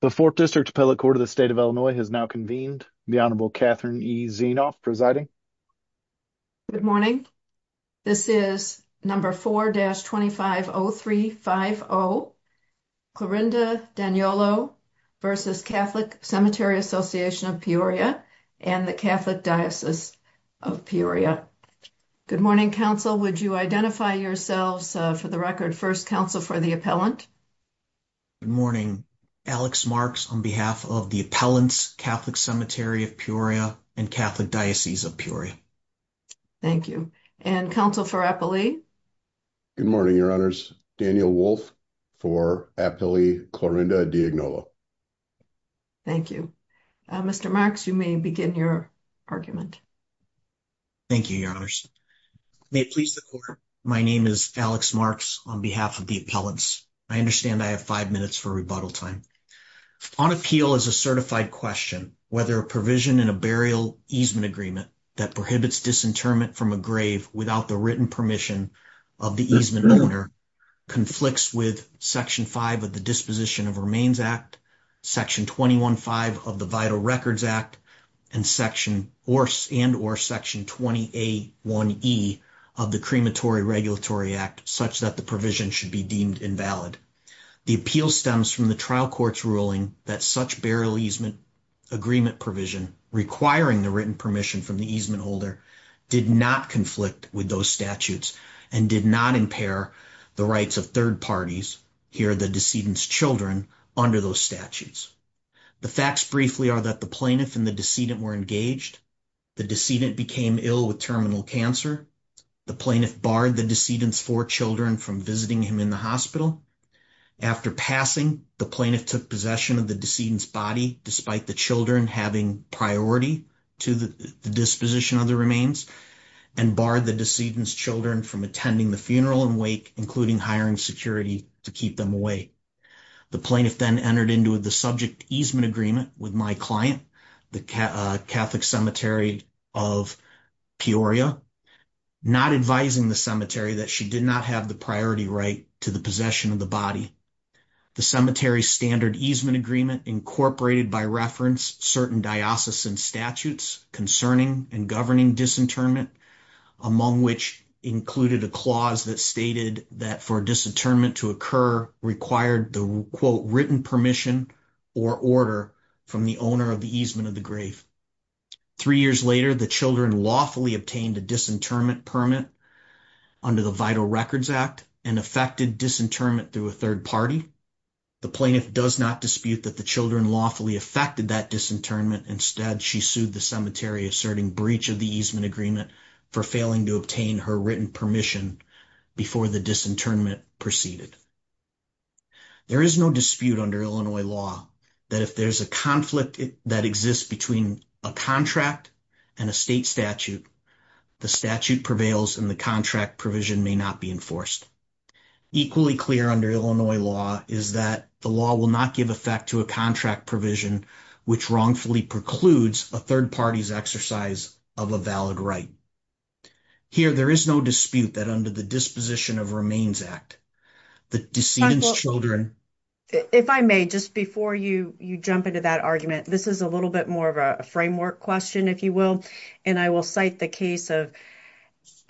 The 4th District Appellate Court of the State of Illinois has now convened. The Honorable Catherine E. Zienoff presiding. Good morning. This is number 4-250350, Clorinda D'Agnolo v. Catholic Cemetery Association of Peoria and the Catholic Diocese of Peoria. Good morning, counsel. Would you identify yourselves for the record? First counsel for the appellant? Good morning. Alex Marks on behalf of the appellants, Catholic Cemetery of Peoria and Catholic Diocese of Peoria. Thank you. And counsel for appellee? Good morning, your honors. Daniel Wolfe for appellee, Clorinda D'Agnolo. Thank you. Mr. Marks, you may begin your argument. Thank you, your honors. May it please the court, My name is Alex Marks on behalf of the appellants. I understand I have 5 minutes for rebuttal time. On appeal is a certified question whether a provision in a burial easement agreement that prohibits disinterment from a grave without the written permission of the easement owner conflicts with Section 5 of the Disposition of Remains Act, Section 21-5 of the Vital Records Act, and or Section 20A1E of the Crematory Regulatory Act such that the provision should be deemed invalid. The appeal stems from the trial court's ruling that such burial easement agreement provision requiring the written permission from the easement holder did not conflict with those statutes and did not impair the rights of third parties, here the decedent's children, under those statutes. The facts briefly are that the plaintiff and the decedent were engaged. The decedent became ill with terminal cancer. The plaintiff barred the decedent's four children from visiting him in the hospital. After passing, the plaintiff took possession of the decedent's body despite the children having priority to the disposition of the remains and barred the decedent's children from attending the funeral and wake, including hiring security to keep them away. The plaintiff then entered into the subject easement agreement with my client, the Catholic Cemetery of Peoria, not advising the cemetery that she did not have the priority right to the possession of the body. The cemetery's standard easement agreement incorporated by reference certain diocesan statutes concerning and governing disinternment, among which included a clause that stated that for disinternment to occur required the quote written permission or order from the owner of the easement of the grave. Three years later, the children lawfully obtained a disinternment permit under the Vital Records Act and affected disinterment through a third party. The plaintiff does not dispute that the children lawfully affected that disinternment. Instead, she sued the cemetery asserting breach of the easement agreement for failing to obtain her written permission before the disinternment proceeded. There is no dispute under Illinois law that if there's a conflict that exists between a contract and a state statute, the statute prevails and the contract provision may not be enforced. Equally clear under Illinois law is that the law will not give effect to a contract provision which wrongfully precludes a third party's exercise of a valid right. Here, there is no dispute that under the Disposition of Remains Act, the decedent's children... If I may, just before you jump into that argument, this is a little bit more of a framework question, if you will, and I will cite the case of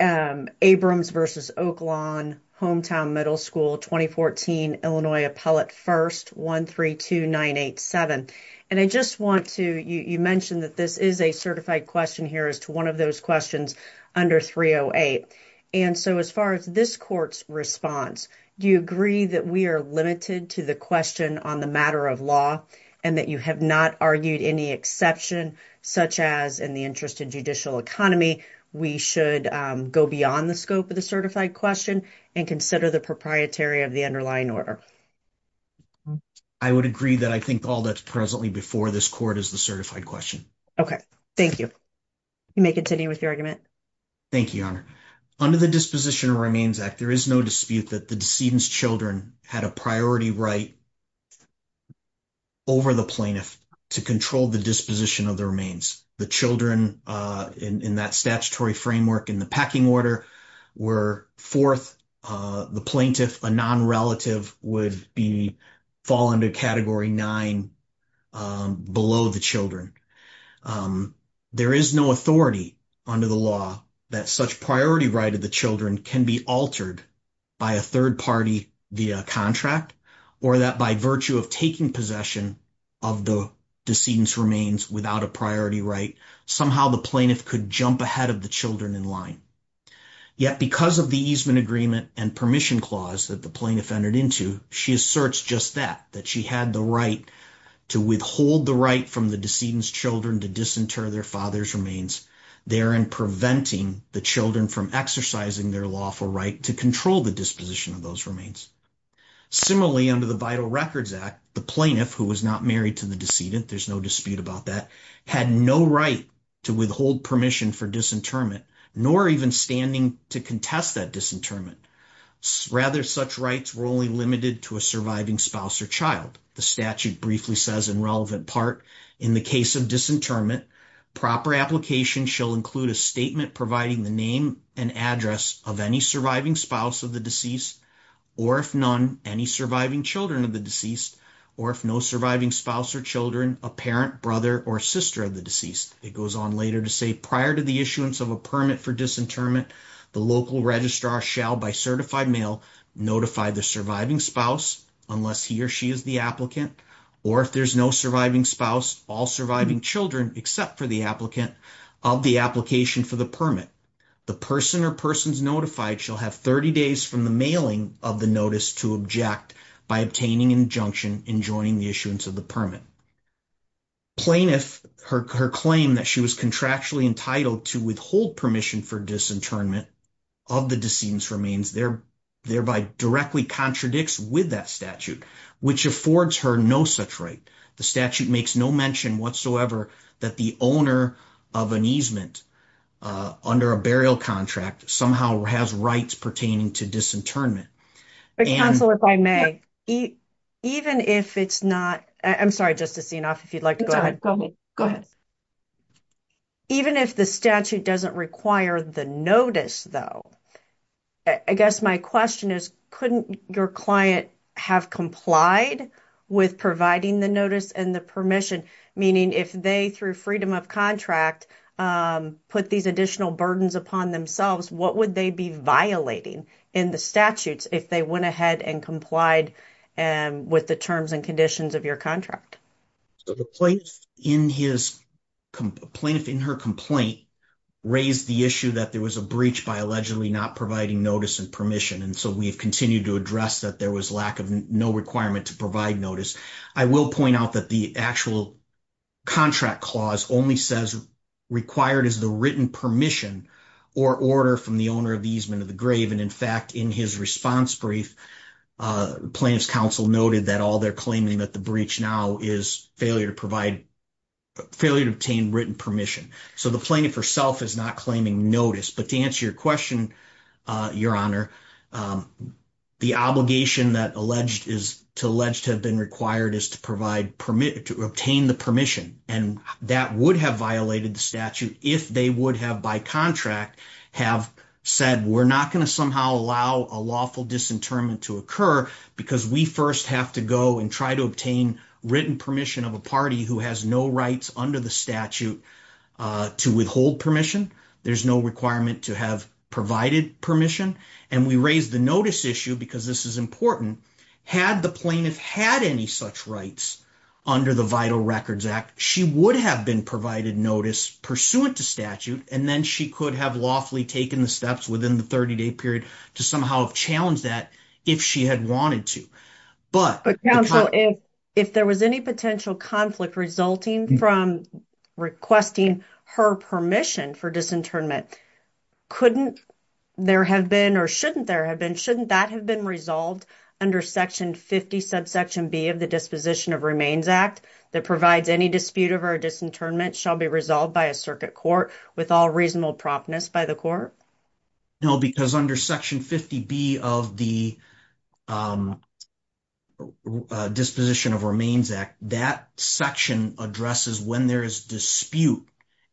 Abrams v. Oaklawn, Hometown Middle School, 2014, Illinois Appellate 1st 132987. And I just want to... You mentioned that this is a certified question here as to one of those questions under 308, and so as far as this court's response, do you agree that we are limited to the question on the matter of law and that you have not argued any exception, such as in the interest of judicial economy, we should go beyond the scope of the certified question and consider the underlying order? I would agree that I think all that's presently before this court is the certified question. Okay, thank you. You may continue with your argument. Thank you, Your Honor. Under the Disposition of Remains Act, there is no dispute that the decedent's children had a priority right over the plaintiff to control the disposition of the remains. The children in that statutory framework in the pecking order were fourth. The plaintiff, a non-relative, would fall under Category 9 below the children. There is no authority under the law that such priority right of the children can be altered by a third party via contract or that by virtue of taking possession of the decedent's remains without a priority right, somehow the plaintiff could jump ahead of the children in line. Yet because of the easement agreement and permission clause that the plaintiff entered into, she asserts just that, that she had the right to withhold the right from the decedent's children to disinter their father's remains, therein preventing the children from exercising their lawful right to control the disposition of those remains. Similarly, under the Vital Records Act, the plaintiff who was not married to the decedent, there's no dispute about that, had no right to withhold permission for disinterment nor even standing to contest that disinterment. Rather, such rights were only limited to a surviving spouse or child. The statute briefly says in relevant part, in the case of disinterment, proper application shall include a statement providing the name and address of any surviving spouse of the deceased, or if none, any surviving children of the deceased, or if no surviving spouse or children, a parent, brother, or sister of the deceased. It goes on later to say, prior to the issuance of a permit for disinterment, the local registrar shall, by certified mail, notify the surviving spouse, unless he or she is the applicant, or if there's no surviving spouse, all surviving children except for the applicant, of the application for the permit. The person or persons notified shall have 30 days from the mailing of the notice to object by obtaining injunction in joining the issuance of the permit. Plaintiff, her claim that she was contractually entitled to withhold permission for disinterment of the decedent's remains, thereby directly contradicts with that statute, which affords her no such right. The statute makes no mention whatsoever that the owner of an easement, under a burial contract, somehow has rights pertaining to disinternment. But counsel, if I may, even if it's not, I'm sorry, Justice Sienoff, if you'd like to go ahead. Go ahead. Even if the statute doesn't require the notice, though, I guess my question is, couldn't your client have complied with providing the notice and the permission, meaning if they, through freedom of contract, put these additional burdens upon themselves, what would they be violating in the statutes, if they went ahead and complied with the terms and conditions of your contract? So the plaintiff in her complaint raised the issue that there was a breach by allegedly not providing notice and permission, and so we have continued to address that there was no requirement to provide notice. I will point out that the actual contract clause only says required is the written permission or order from the owner of the easement of the grave, and in fact, in his response brief, plaintiff's counsel noted that all they're claiming that the breach now is failure to obtain written permission. So the plaintiff herself is not claiming notice, but to answer your question, Your Honor, the obligation that to allege to have been required is to obtain the permission, and that would have violated the statute if they would have, by contract, have said, we're not going to somehow allow a lawful disinterment to occur because we first have to go and try to obtain written permission of a party who has no rights under the statute to withhold permission. There's no requirement to have provided permission, and we raised the notice issue because this is important. Had the plaintiff had any such rights under the Vital Records Act, she would have been provided notice pursuant to statute, and then she could have lawfully taken the steps within the 30-day period to somehow challenge that if she had wanted to. But if there was any potential conflict from requesting her permission for disinterment, couldn't there have been, or shouldn't there have been, shouldn't that have been resolved under Section 50 subsection B of the Disposition of Remains Act that provides any dispute of her disinterment shall be resolved by a circuit court with all reasonable promptness by the court? No, because under Section 50B of the Disposition of Remains Act, that section addresses when there is dispute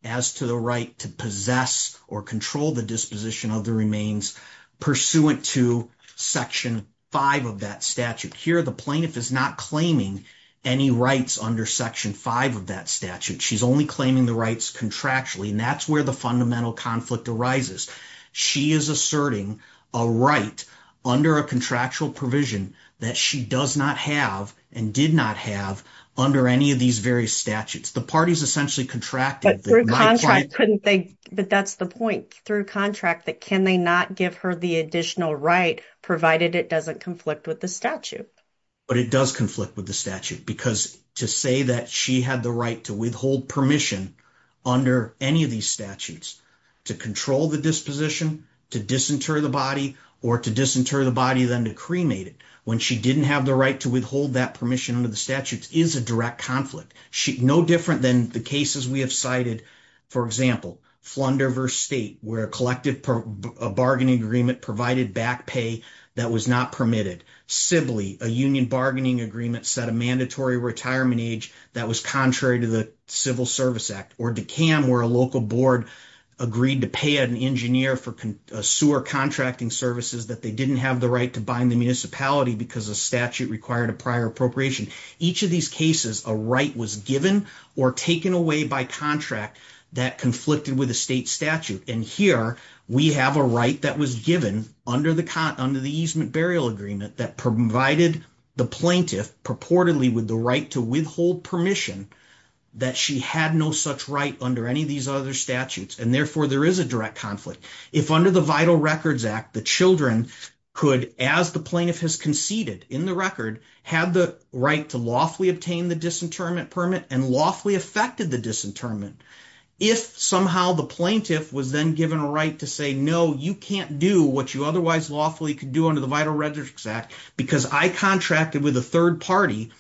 as to the right to possess or control the disposition of the remains pursuant to Section 5 of that statute. Here, the plaintiff is not claiming any rights under Section 5 of that statute. She's only claiming the rights contractually, and that's where the fundamental conflict arises. She is a right under a contractual provision that she does not have and did not have under any of these various statutes. The parties essentially contracted. But that's the point. Through contract, can they not give her the additional right provided it doesn't conflict with the statute? But it does conflict with the statute because to say that she had the right to withhold permission under any of these statutes to control the disposition, to disinter the body, or to disinter the body than to cremate it when she didn't have the right to withhold that permission under the statutes is a direct conflict. No different than the cases we have cited. For example, Flunder v. State, where a collective bargaining agreement provided back pay that was not permitted. Sibley, a union bargaining agreement set a mandatory retirement age that was contrary to the Civil Service Act. Or Decan, where a local board agreed to pay an engineer for sewer contracting services that they didn't have the right to bind the municipality because a statute required a prior appropriation. Each of these cases, a right was given or taken away by contract that conflicted with a state statute. And here, we have a right that was given under the easement burial agreement that provided the plaintiff purportedly with the right to withhold permission that she had no such right under any of these other statutes. And therefore, there is a direct conflict. If under the Vital Records Act, the children could, as the plaintiff has conceded in the record, had the right to lawfully obtain the disinterment permit and lawfully affected the disinterment. If somehow the plaintiff was then given a right to say, no, you can't do what you otherwise lawfully could do under the Vital Records Act because I contracted with a third party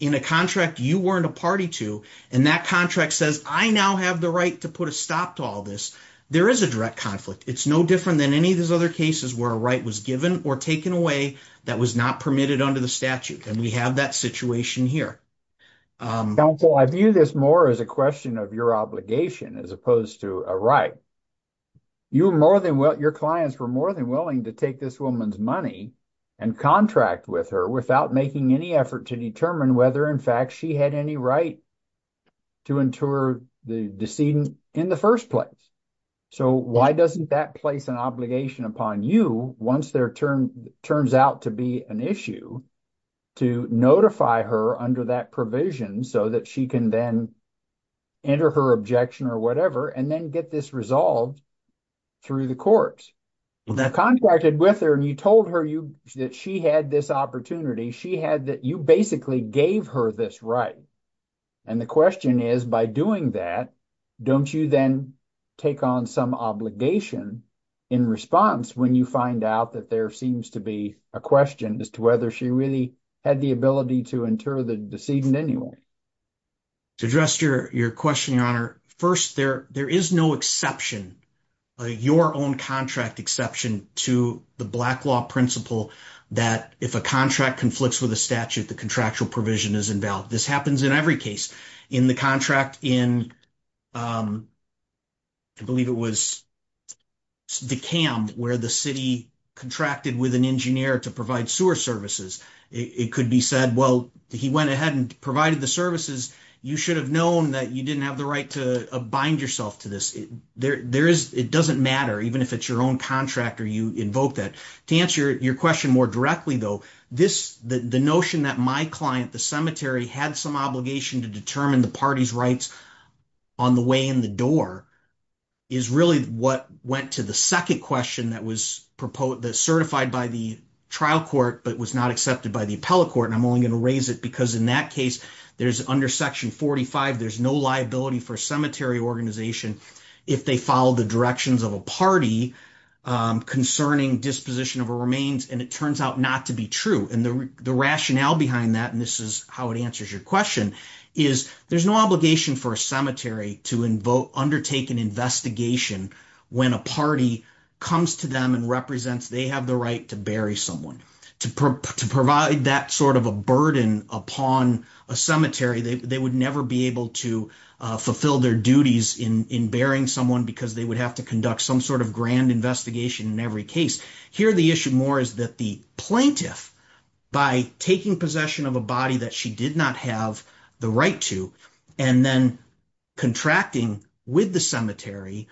in a contract you weren't a party to. And that contract says, I now have the right to put a stop to all this. There is a direct conflict. It's no different than any of these other cases where a right was given or taken away that was not permitted under the statute. And we have that situation here. Counsel, I view this more as a question of your obligation as opposed to a right. Your clients were more than willing to take this woman's money and contract with her without making any effort to determine whether, in fact, she had any right to inter the decedent in the first place. So why doesn't that place an obligation upon you once there turns out to be an issue to notify her under that provision so that she can then enter her objection or whatever and then get this resolved through the courts? You contracted with her and you told her that she had this opportunity. She had that you basically gave her this right. And the question is, by doing that, don't you then take on some obligation in response when you find out that there seems to be a question as to whether she really had the ability to inter the decedent anyway? To address your question, Your Honor, first, there is no exception, your own contract exception, to the Black Law principle that if a contract conflicts with a statute, the contractual provision is invalid. This happens in every case. In the contract in, I believe it was DeKalb, where the city contracted with an engineer to provide sewer services. It could be said, well, he went ahead and provided the services. You should have known that you didn't have the right to bind yourself to this. It doesn't matter, even if it's your own contract or you invoke that. To answer your question more directly, though, the notion that my client, the cemetery, had some obligation to determine the party's rights on the way in the door is really what went to the second question that was certified by the trial court but was not accepted by the appellate court. And I'm only going to raise it because in that case, there's under section 45, there's no liability for a cemetery organization if they follow the directions of a party concerning disposition of a remains and it turns out not to be true. And the rationale behind that, and this is how it answers your question, is there's no obligation for a cemetery to undertake an investigation when a party comes to them and represents they have the right to bury someone. To provide that sort of a burden upon a cemetery, they would never be able to fulfill their duties in burying someone because they would have to conduct some sort of grand investigation in every case. Here the issue more is that the plaintiff, by taking possession of a body that she did not have the right to, and then contracting with the cemetery,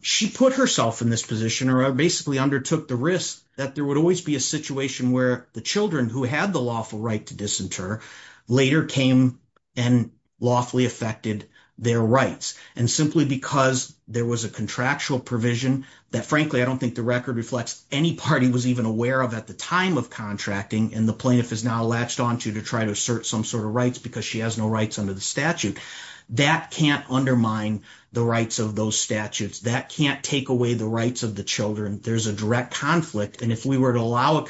she put herself in this position or basically undertook the risk that there would always be a situation where the children who had the lawful right to later came and lawfully affected their rights. And simply because there was a contractual provision that frankly I don't think the record reflects any party was even aware of at the time of contracting and the plaintiff is now latched onto to try to assert some sort of rights because she has no rights under the statute. That can't undermine the rights of those statutes. That can't take away the rights of the children. There's a direct conflict and if we were to allow a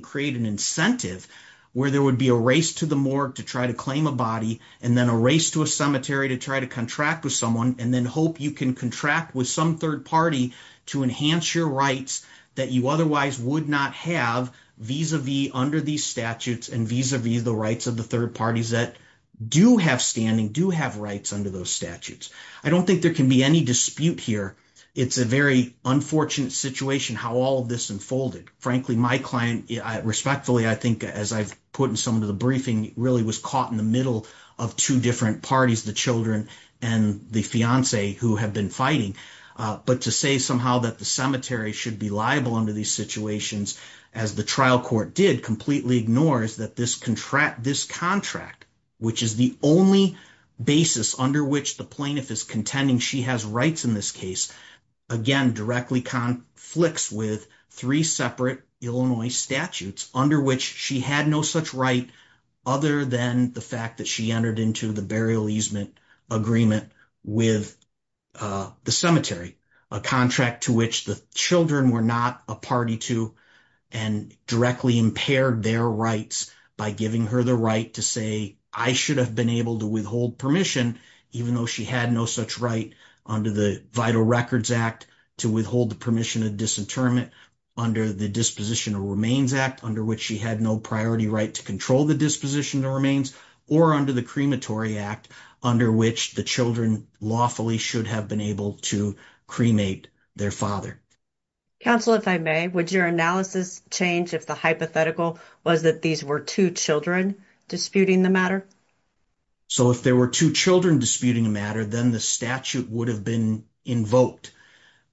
create an incentive where there would be a race to the morgue to try to claim a body and then a race to a cemetery to try to contract with someone and then hope you can contract with some third party to enhance your rights that you otherwise would not have vis-a-vis under these statutes and vis-a-vis the rights of the third parties that do have standing, do have rights under those statutes. I don't think there can be any dispute here. It's a very unfortunate situation how all this unfolded. Frankly my client respectfully I think as I've put in some of the briefing really was caught in the middle of two different parties the children and the fiance who have been fighting but to say somehow that the cemetery should be liable under these situations as the trial court did completely ignores that this contract this contract which is the only basis under which the plaintiff is contending she has rights in this case again directly conflicts with three separate Illinois statutes under which she had no such right other than the fact that she entered into the burial easement agreement with the cemetery. A contract to which the children were not a party to and directly impaired their rights by giving her the right to say I should have been able to permission even though she had no such right under the vital records act to withhold the permission of disinterment under the disposition of remains act under which she had no priority right to control the disposition of remains or under the crematory act under which the children lawfully should have been able to cremate their father. Counsel if I may would your analysis change if the hypothetical was that these were two children disputing the matter? So if there were two children disputing the matter then the statute would have been invoked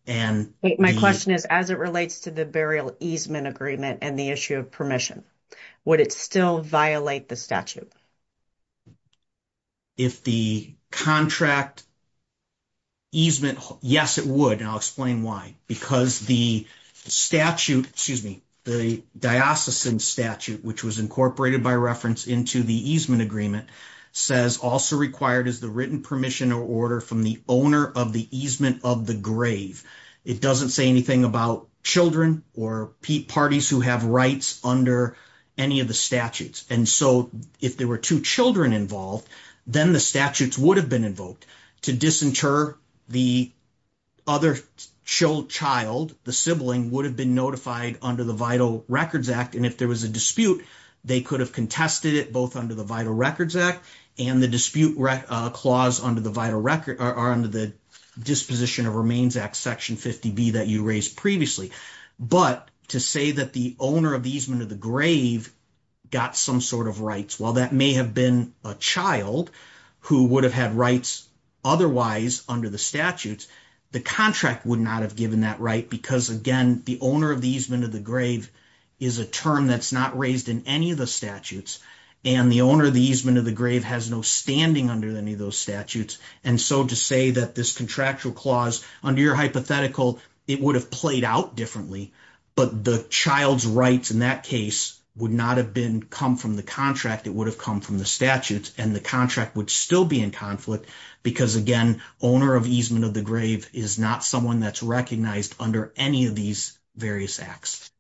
and my question is as it relates to the burial easement agreement and the issue of permission would it still violate the statute? If the contract easement yes it would and I'll explain why because the statute excuse me the diocesan statute which was incorporated by into the easement agreement says also required is the written permission or order from the owner of the easement of the grave. It doesn't say anything about children or parties who have rights under any of the statutes and so if there were two children involved then the statutes would have been invoked to disinter the other child the sibling would have been notified under the vital records act and if there was a dispute they could have contested it both under the vital records act and the dispute clause under the vital record are under the disposition of remains act section 50b that you raised previously but to say that the owner of the easement of the grave got some sort of rights while that may have been a child who would have had rights otherwise under the statutes the contract would not have given that right because again the owner of the easement of grave is a term that's not raised in any of the statutes and the owner of the easement of the grave has no standing under any of those statutes and so to say that this contractual clause under your hypothetical it would have played out differently but the child's rights in that case would not have been come from the contract it would have come from the statutes and the contract would still be in conflict because again owner of easement of the grave is not someone that's recognized under any of these various acts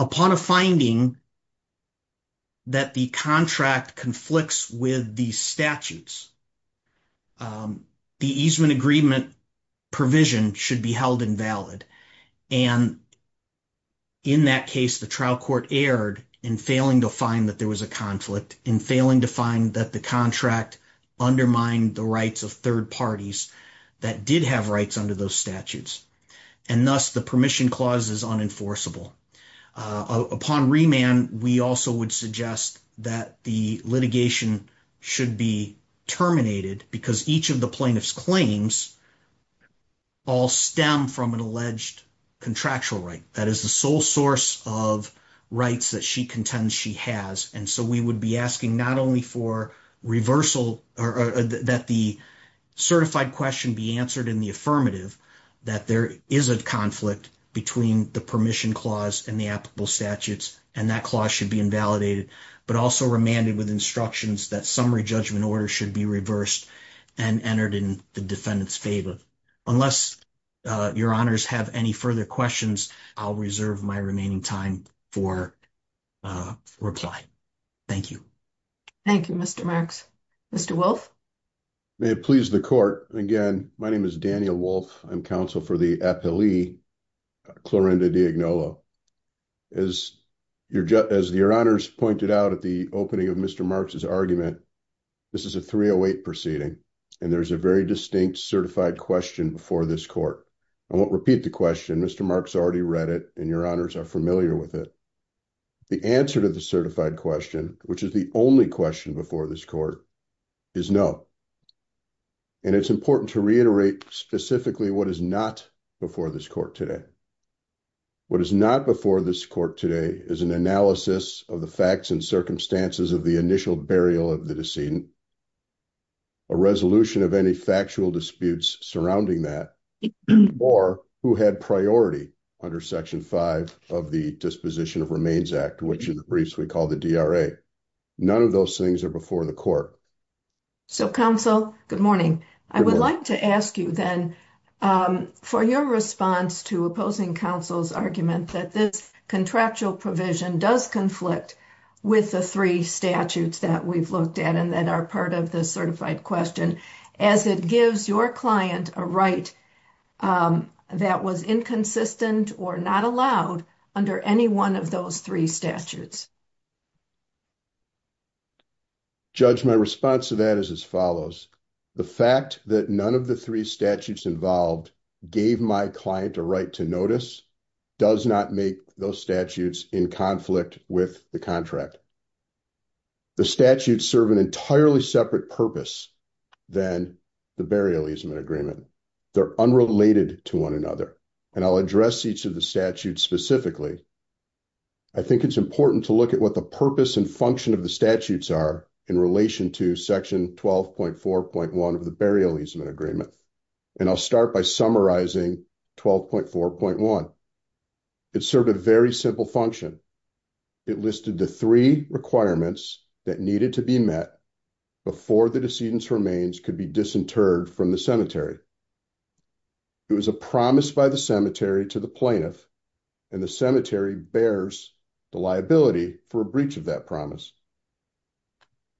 upon a finding that the contract conflicts with the statutes the easement agreement provision should be held invalid and in that case the trial court erred in failing to find that there was a conflict in failing to find that the contract undermined the rights of third parties that did have rights under those statutes and thus the permission clause is unenforceable upon remand we also would suggest that the litigation should be terminated because each of the plaintiffs claims all stem from an alleged contractual right that is the sole source of rights that she contends she has and so we would be asking not only for reversal or that the certified question be answered in the affirmative that there is a conflict between the permission clause and the applicable statutes and that clause should be invalidated but also remanded with instructions that summary judgment order should be reversed and entered in the defendant's favor unless uh your honors have any further questions i'll reserve my remaining time for uh reply thank you thank you mr marx mr wolf may it please the court again my name is daniel wolf i'm counsel for the appellee clorinda diagnola as your just as your honors pointed out at the opening of mr marx's argument this is a 308 proceeding and there's a very distinct certified question before this court i won't repeat the question mr marx already read it and your honors are familiar with it the answer to the certified question which is the only question before this court is no and it's important to reiterate specifically what is not before this court today what is not before this court today is an analysis of the facts and circumstances of the initial burial of the decedent a resolution of any factual disputes surrounding that or who had priority under section 5 of the disposition of remains act which in the briefs we call the dra none of those things are before the court so counsel good morning i would like to ask you then um for your response to opposing counsel's argument that this contractual provision does conflict with the three statutes that we've looked at and that part of the certified question as it gives your client a right that was inconsistent or not allowed under any one of those three statutes judge my response to that is as follows the fact that none of the three statutes involved gave my client a right to notice does not make those statutes in conflict with the contract the statutes serve an entirely separate purpose than the burial easement agreement they're unrelated to one another and i'll address each of the statutes specifically i think it's important to look at what the purpose and function of the statutes are in relation to section 12.4.1 of the burial easement agreement and i'll start by summarizing 12.4.1 it served a very simple function it listed the three requirements that needed to be met before the decedent's remains could be disinterred from the cemetery it was a promise by the cemetery to the plaintiff and the cemetery bears the liability for a breach of that promise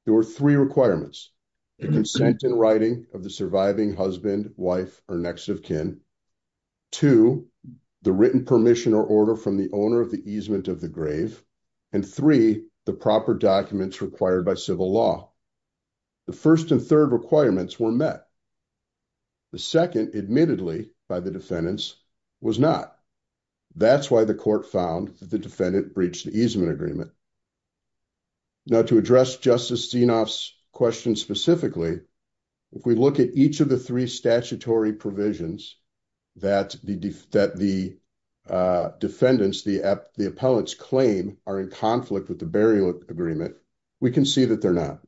there were three requirements the consent in writing of the surviving husband wife or next of kin to the written permission or from the owner of the easement of the grave and three the proper documents required by civil law the first and third requirements were met the second admittedly by the defendants was not that's why the court found that the defendant breached the easement agreement now to address justice xenof's question specifically if we look at each of the statutory provisions that the def that the defendants the app the appellants claim are in conflict with the burial agreement we can see that they're not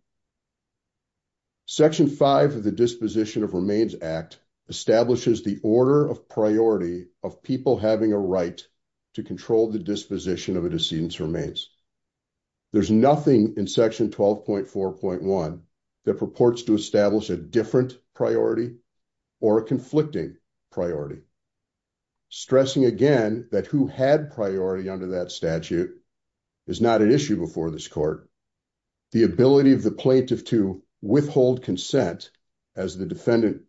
section 5 of the disposition of remains act establishes the order of priority of people having a right to control the disposition of a decedent's remains there's nothing in section 12.4.1 that purports to establish a different priority or a conflicting priority stressing again that who had priority under that statute is not an issue before this court the ability of the plaintiff to withhold consent as the defendant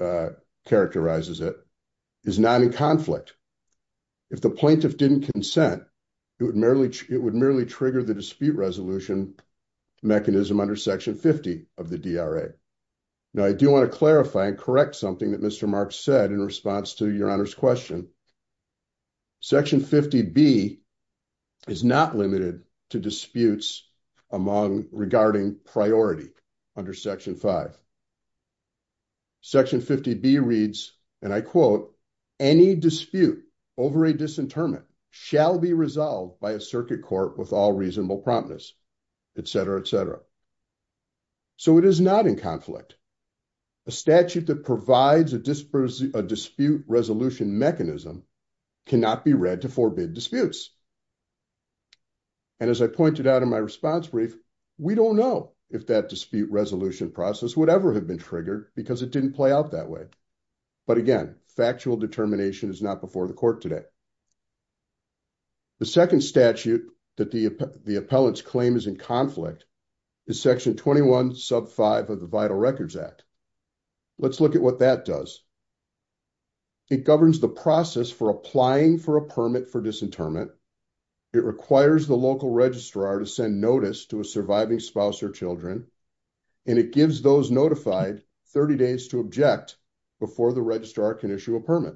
uh characterizes it is not in conflict if the plaintiff didn't consent it would merely it would merely trigger the dispute resolution mechanism under section 50 of the dra now i do want to clarify and correct something that mr mark said in response to your honor's question section 50b is not limited to disputes among regarding priority under section 5 section 50b reads and i quote any dispute over a promptness etc etc so it is not in conflict a statute that provides a dispersion a dispute resolution mechanism cannot be read to forbid disputes and as i pointed out in my response brief we don't know if that dispute resolution process would ever have been triggered because it didn't play out that way but again factual determination is not before the court today the second statute that the the appellant's claim is in conflict is section 21 sub 5 of the vital records act let's look at what that does it governs the process for applying for a permit for disinterment it requires the local registrar to send notice to a surviving spouse or children and it gives those notified 30 days to object before the registrar can issue a permit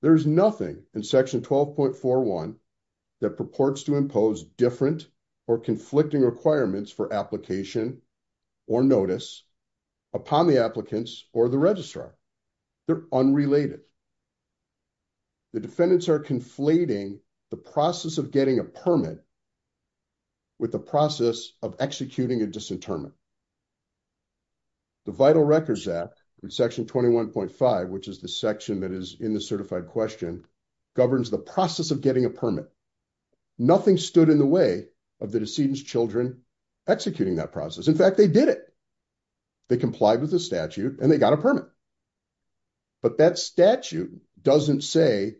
there is nothing in section 12.41 that purports to impose different or conflicting requirements for application or notice upon the applicants or the registrar they're unrelated the defendants are conflating the process of getting a permit with the process of executing a disinterment the vital records act in section 21.5 which is the section that is in the certified question governs the process of getting a permit nothing stood in the way of the decedent's children executing that process in fact they did it they complied with the statute and they got a permit but that statute doesn't say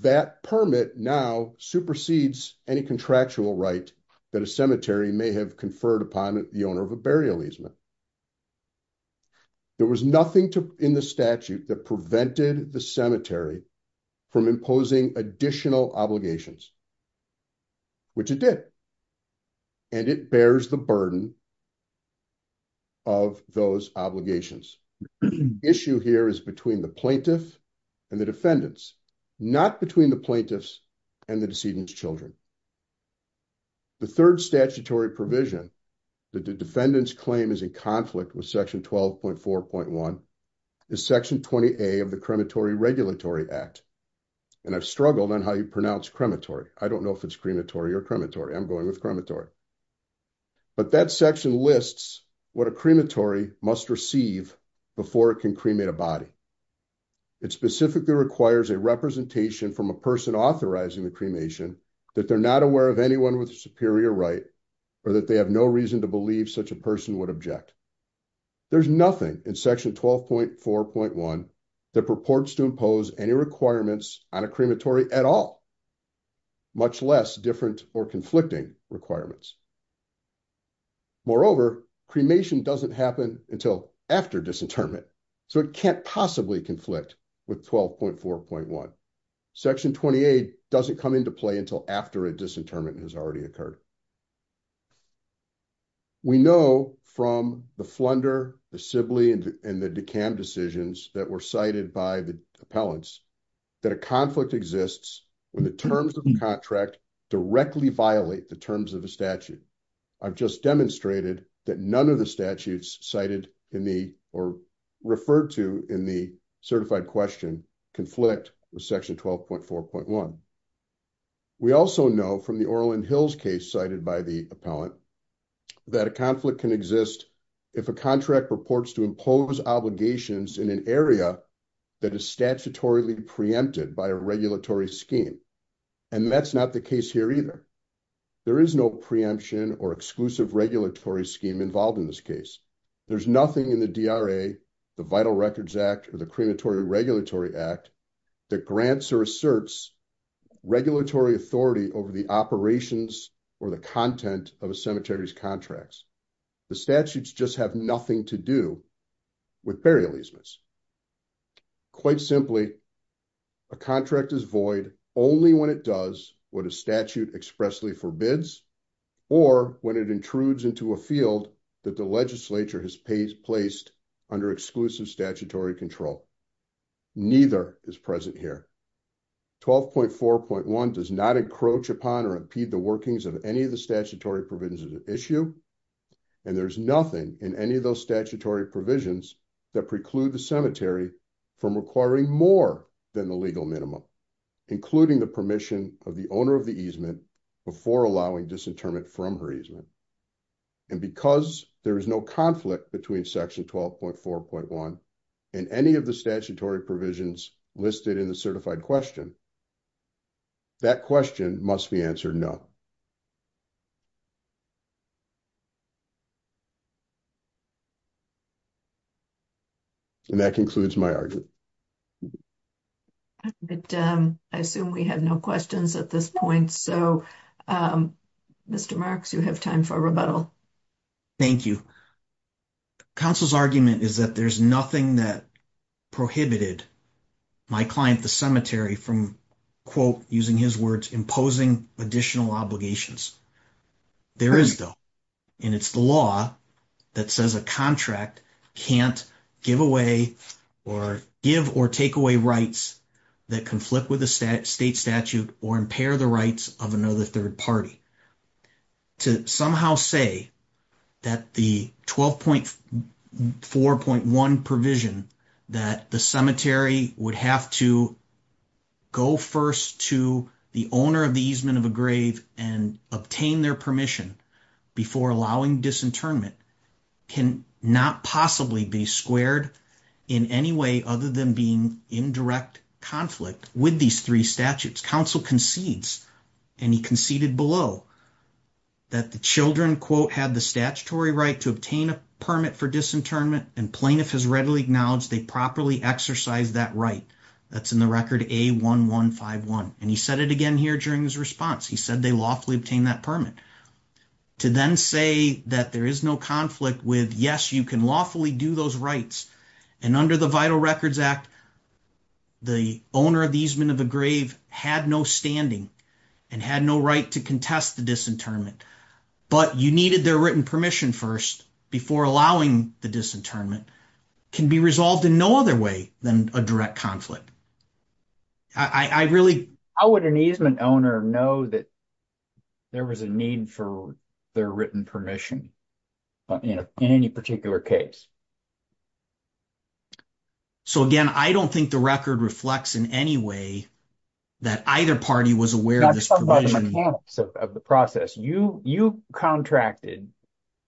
that permit now supersedes any contractual right that a cemetery may have conferred upon the owner of a burial easement there was nothing to in the statute that prevented the cemetery from imposing additional obligations which it did and it bears the burden of those obligations issue here is between the plaintiff and the defendants not between the and the decedent's children the third statutory provision that the defendant's claim is in conflict with section 12.4.1 is section 20a of the crematory regulatory act and i've struggled on how you pronounce crematory i don't know if it's crematory or crematory i'm going with crematory but that section lists what a crematory must receive before it can cremate a body it specifically requires a representation from a person authorizing the cremation that they're not aware of anyone with a superior right or that they have no reason to believe such a person would object there's nothing in section 12.4.1 that purports to impose any requirements on a crematory at all much less different or conflicting requirements moreover cremation doesn't happen until after disinterment so it can't possibly conflict with 12.4.1 section 28 doesn't come into play until after a disinterment has already occurred we know from the flunder the sibling and the decam decisions that were cited by the appellants that a conflict exists when the terms of the contract directly violate the terms of the cited in the or referred to in the certified question conflict with section 12.4.1 we also know from the orlin hills case cited by the appellant that a conflict can exist if a contract purports to impose obligations in an area that is statutorily preempted by a regulatory scheme and that's not the case here either there is no preemption or exclusive regulatory scheme involved in this case there's nothing in the dra the vital records act or the crematory regulatory act that grants or asserts regulatory authority over the operations or the content of a cemetery's contracts the statutes just have nothing to do with burial easements quite simply a contract is only when it does what a statute expressly forbids or when it intrudes into a field that the legislature has placed under exclusive statutory control neither is present here 12.4.1 does not encroach upon or impede the workings of any of the statutory provisions of the issue and there's nothing in any of those statutory provisions that preclude the cemetery from requiring more than the legal minimum including the permission of the owner of the easement before allowing disinterment from her easement and because there is no conflict between section 12.4.1 and any of the statutory provisions listed in the certified question that question must be answered no and that concludes my argument but um i assume we have no questions at this point so um mr marx you have time for a rebuttal thank you council's argument is that there's nothing that prohibited my client the cemetery from quote using his words imposing additional obligations there is though and it's the law that says a contract can't give away or give or take away rights that conflict with the state statute or impair the rights of another third party to somehow say that the 12.4.1 provision that the cemetery would have to go first to the owner of the easement of a grave and obtain their permission before allowing disinternment can not possibly be squared in any way other than being in direct conflict with these three statutes council concedes and he conceded below that the children quote had the statutory right to obtain a permit for disinternment and plaintiff has readily acknowledged they properly exercise that right that's in the record a 1151 and he said it again here during his response he said they lawfully obtained that permit to then say that there is no conflict with yes you can lawfully do those rights and under the vital records act the owner of the easement of the grave had no standing and had no right to contest the disinternment but you needed their written permission first before allowing the disinternment can be resolved in no other way than a direct conflict i i really how would an easement owner know that there was a need for their written permission in any particular case so again i don't think the record reflects in any way that either party was aware of the process you you contracted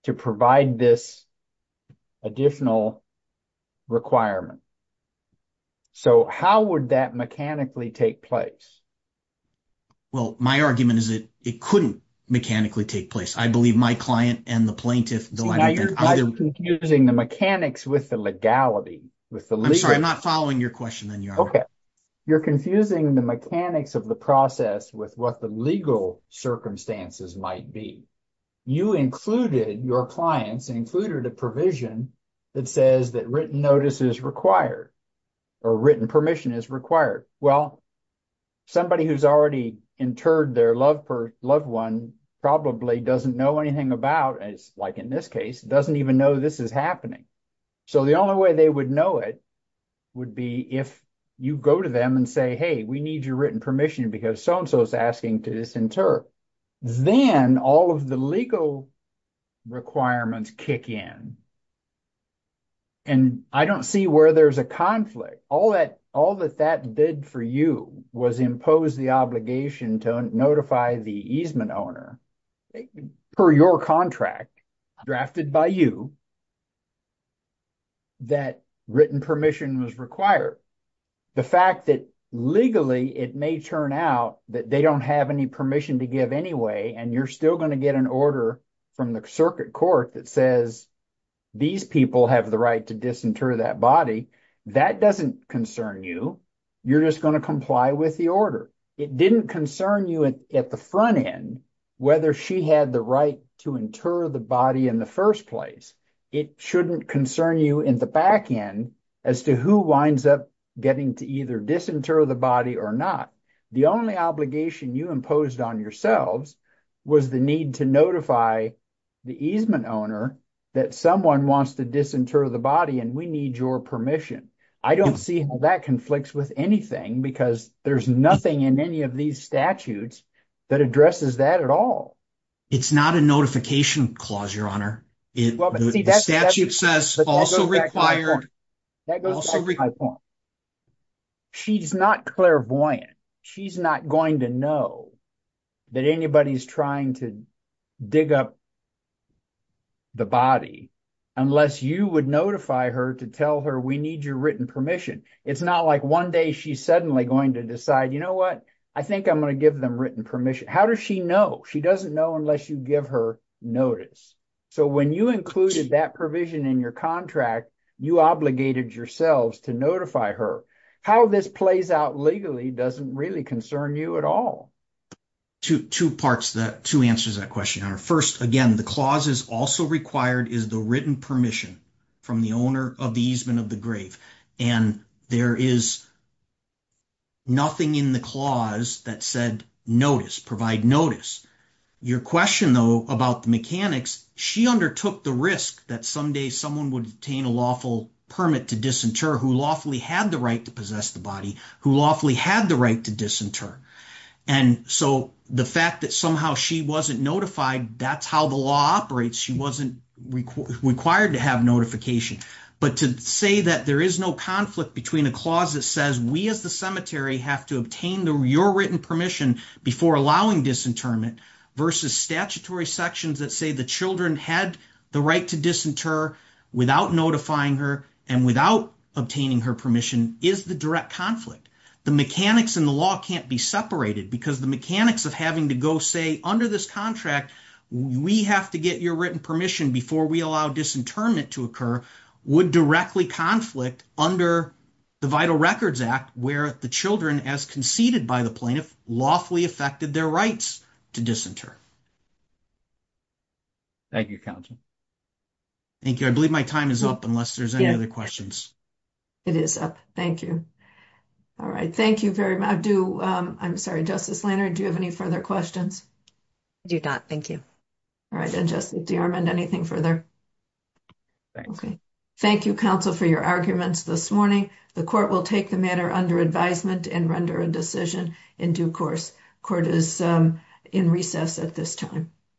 to provide this additional requirement so how would that mechanically take place well my argument is that it couldn't mechanically take place i believe my client and the plaintiff confusing the mechanics with the legality with the legal i'm not following your question then you're okay you're confusing the mechanics of the process with what the legal circumstances might be you included your clients included a provision that says that written notice is required or written permission is required well somebody who's already interred their love for loved one probably doesn't know anything about as like in this case doesn't even know this is happening so the only way they would know it would be if you go to them and say hey we need your written permission because so-and-so is asking to disinter then all of the legal requirements kick in and i don't see where there's a conflict all that all that that did for you was impose the obligation to notify the easement owner per your contract drafted by you that written permission was required the fact that legally it may turn out that they don't have any to give anyway and you're still going to get an order from the circuit court that says these people have the right to disinter that body that doesn't concern you you're just going to comply with the order it didn't concern you at the front end whether she had the right to inter the body in the first place it shouldn't concern you in the back end as to who winds up getting to either disinter the body or not the only obligation you imposed on yourselves was the need to notify the easement owner that someone wants to disinter the body and we need your permission i don't see how that conflicts with anything because there's nothing in any of these statutes that addresses that at all it's not a notification clause your honor it the statute says also that goes to my point she's not clairvoyant she's not going to know that anybody's trying to dig up the body unless you would notify her to tell her we need your written permission it's not like one day she's suddenly going to decide you know what i think i'm going to give them written permission how does she know she doesn't know unless you give her notice so when you included that provision in your contract you obligated yourselves to notify her how this plays out legally doesn't really concern you at all two two parts that two answers that question are first again the clause is also required is the written permission from the owner of the easement of the grave and there is nothing in the clause that said notice provide notice your question though mechanics she undertook the risk that someday someone would obtain a lawful permit to disinter who lawfully had the right to possess the body who lawfully had the right to disinter and so the fact that somehow she wasn't notified that's how the law operates she wasn't required to have notification but to say that there is no conflict between a clause that says we as the cemetery have to obtain the your written permission before allowing disinterment versus statutory sections that say the children had the right to disinter without notifying her and without obtaining her permission is the direct conflict the mechanics and the law can't be separated because the mechanics of having to go say under this contract we have to get your written permission before we allow disinterment to occur would directly conflict under the vital records act where the children as conceded by the plaintiff lawfully affected their rights to disinter thank you council thank you i believe my time is up unless there's any other questions it is up thank you all right thank you very much do um i'm sorry justice lanard do you have any further questions i do not thank you all right and just dearmond anything further okay thank you counsel for your arguments this morning the court will take the matter under advisement and render a decision in due course court is um in recess at this time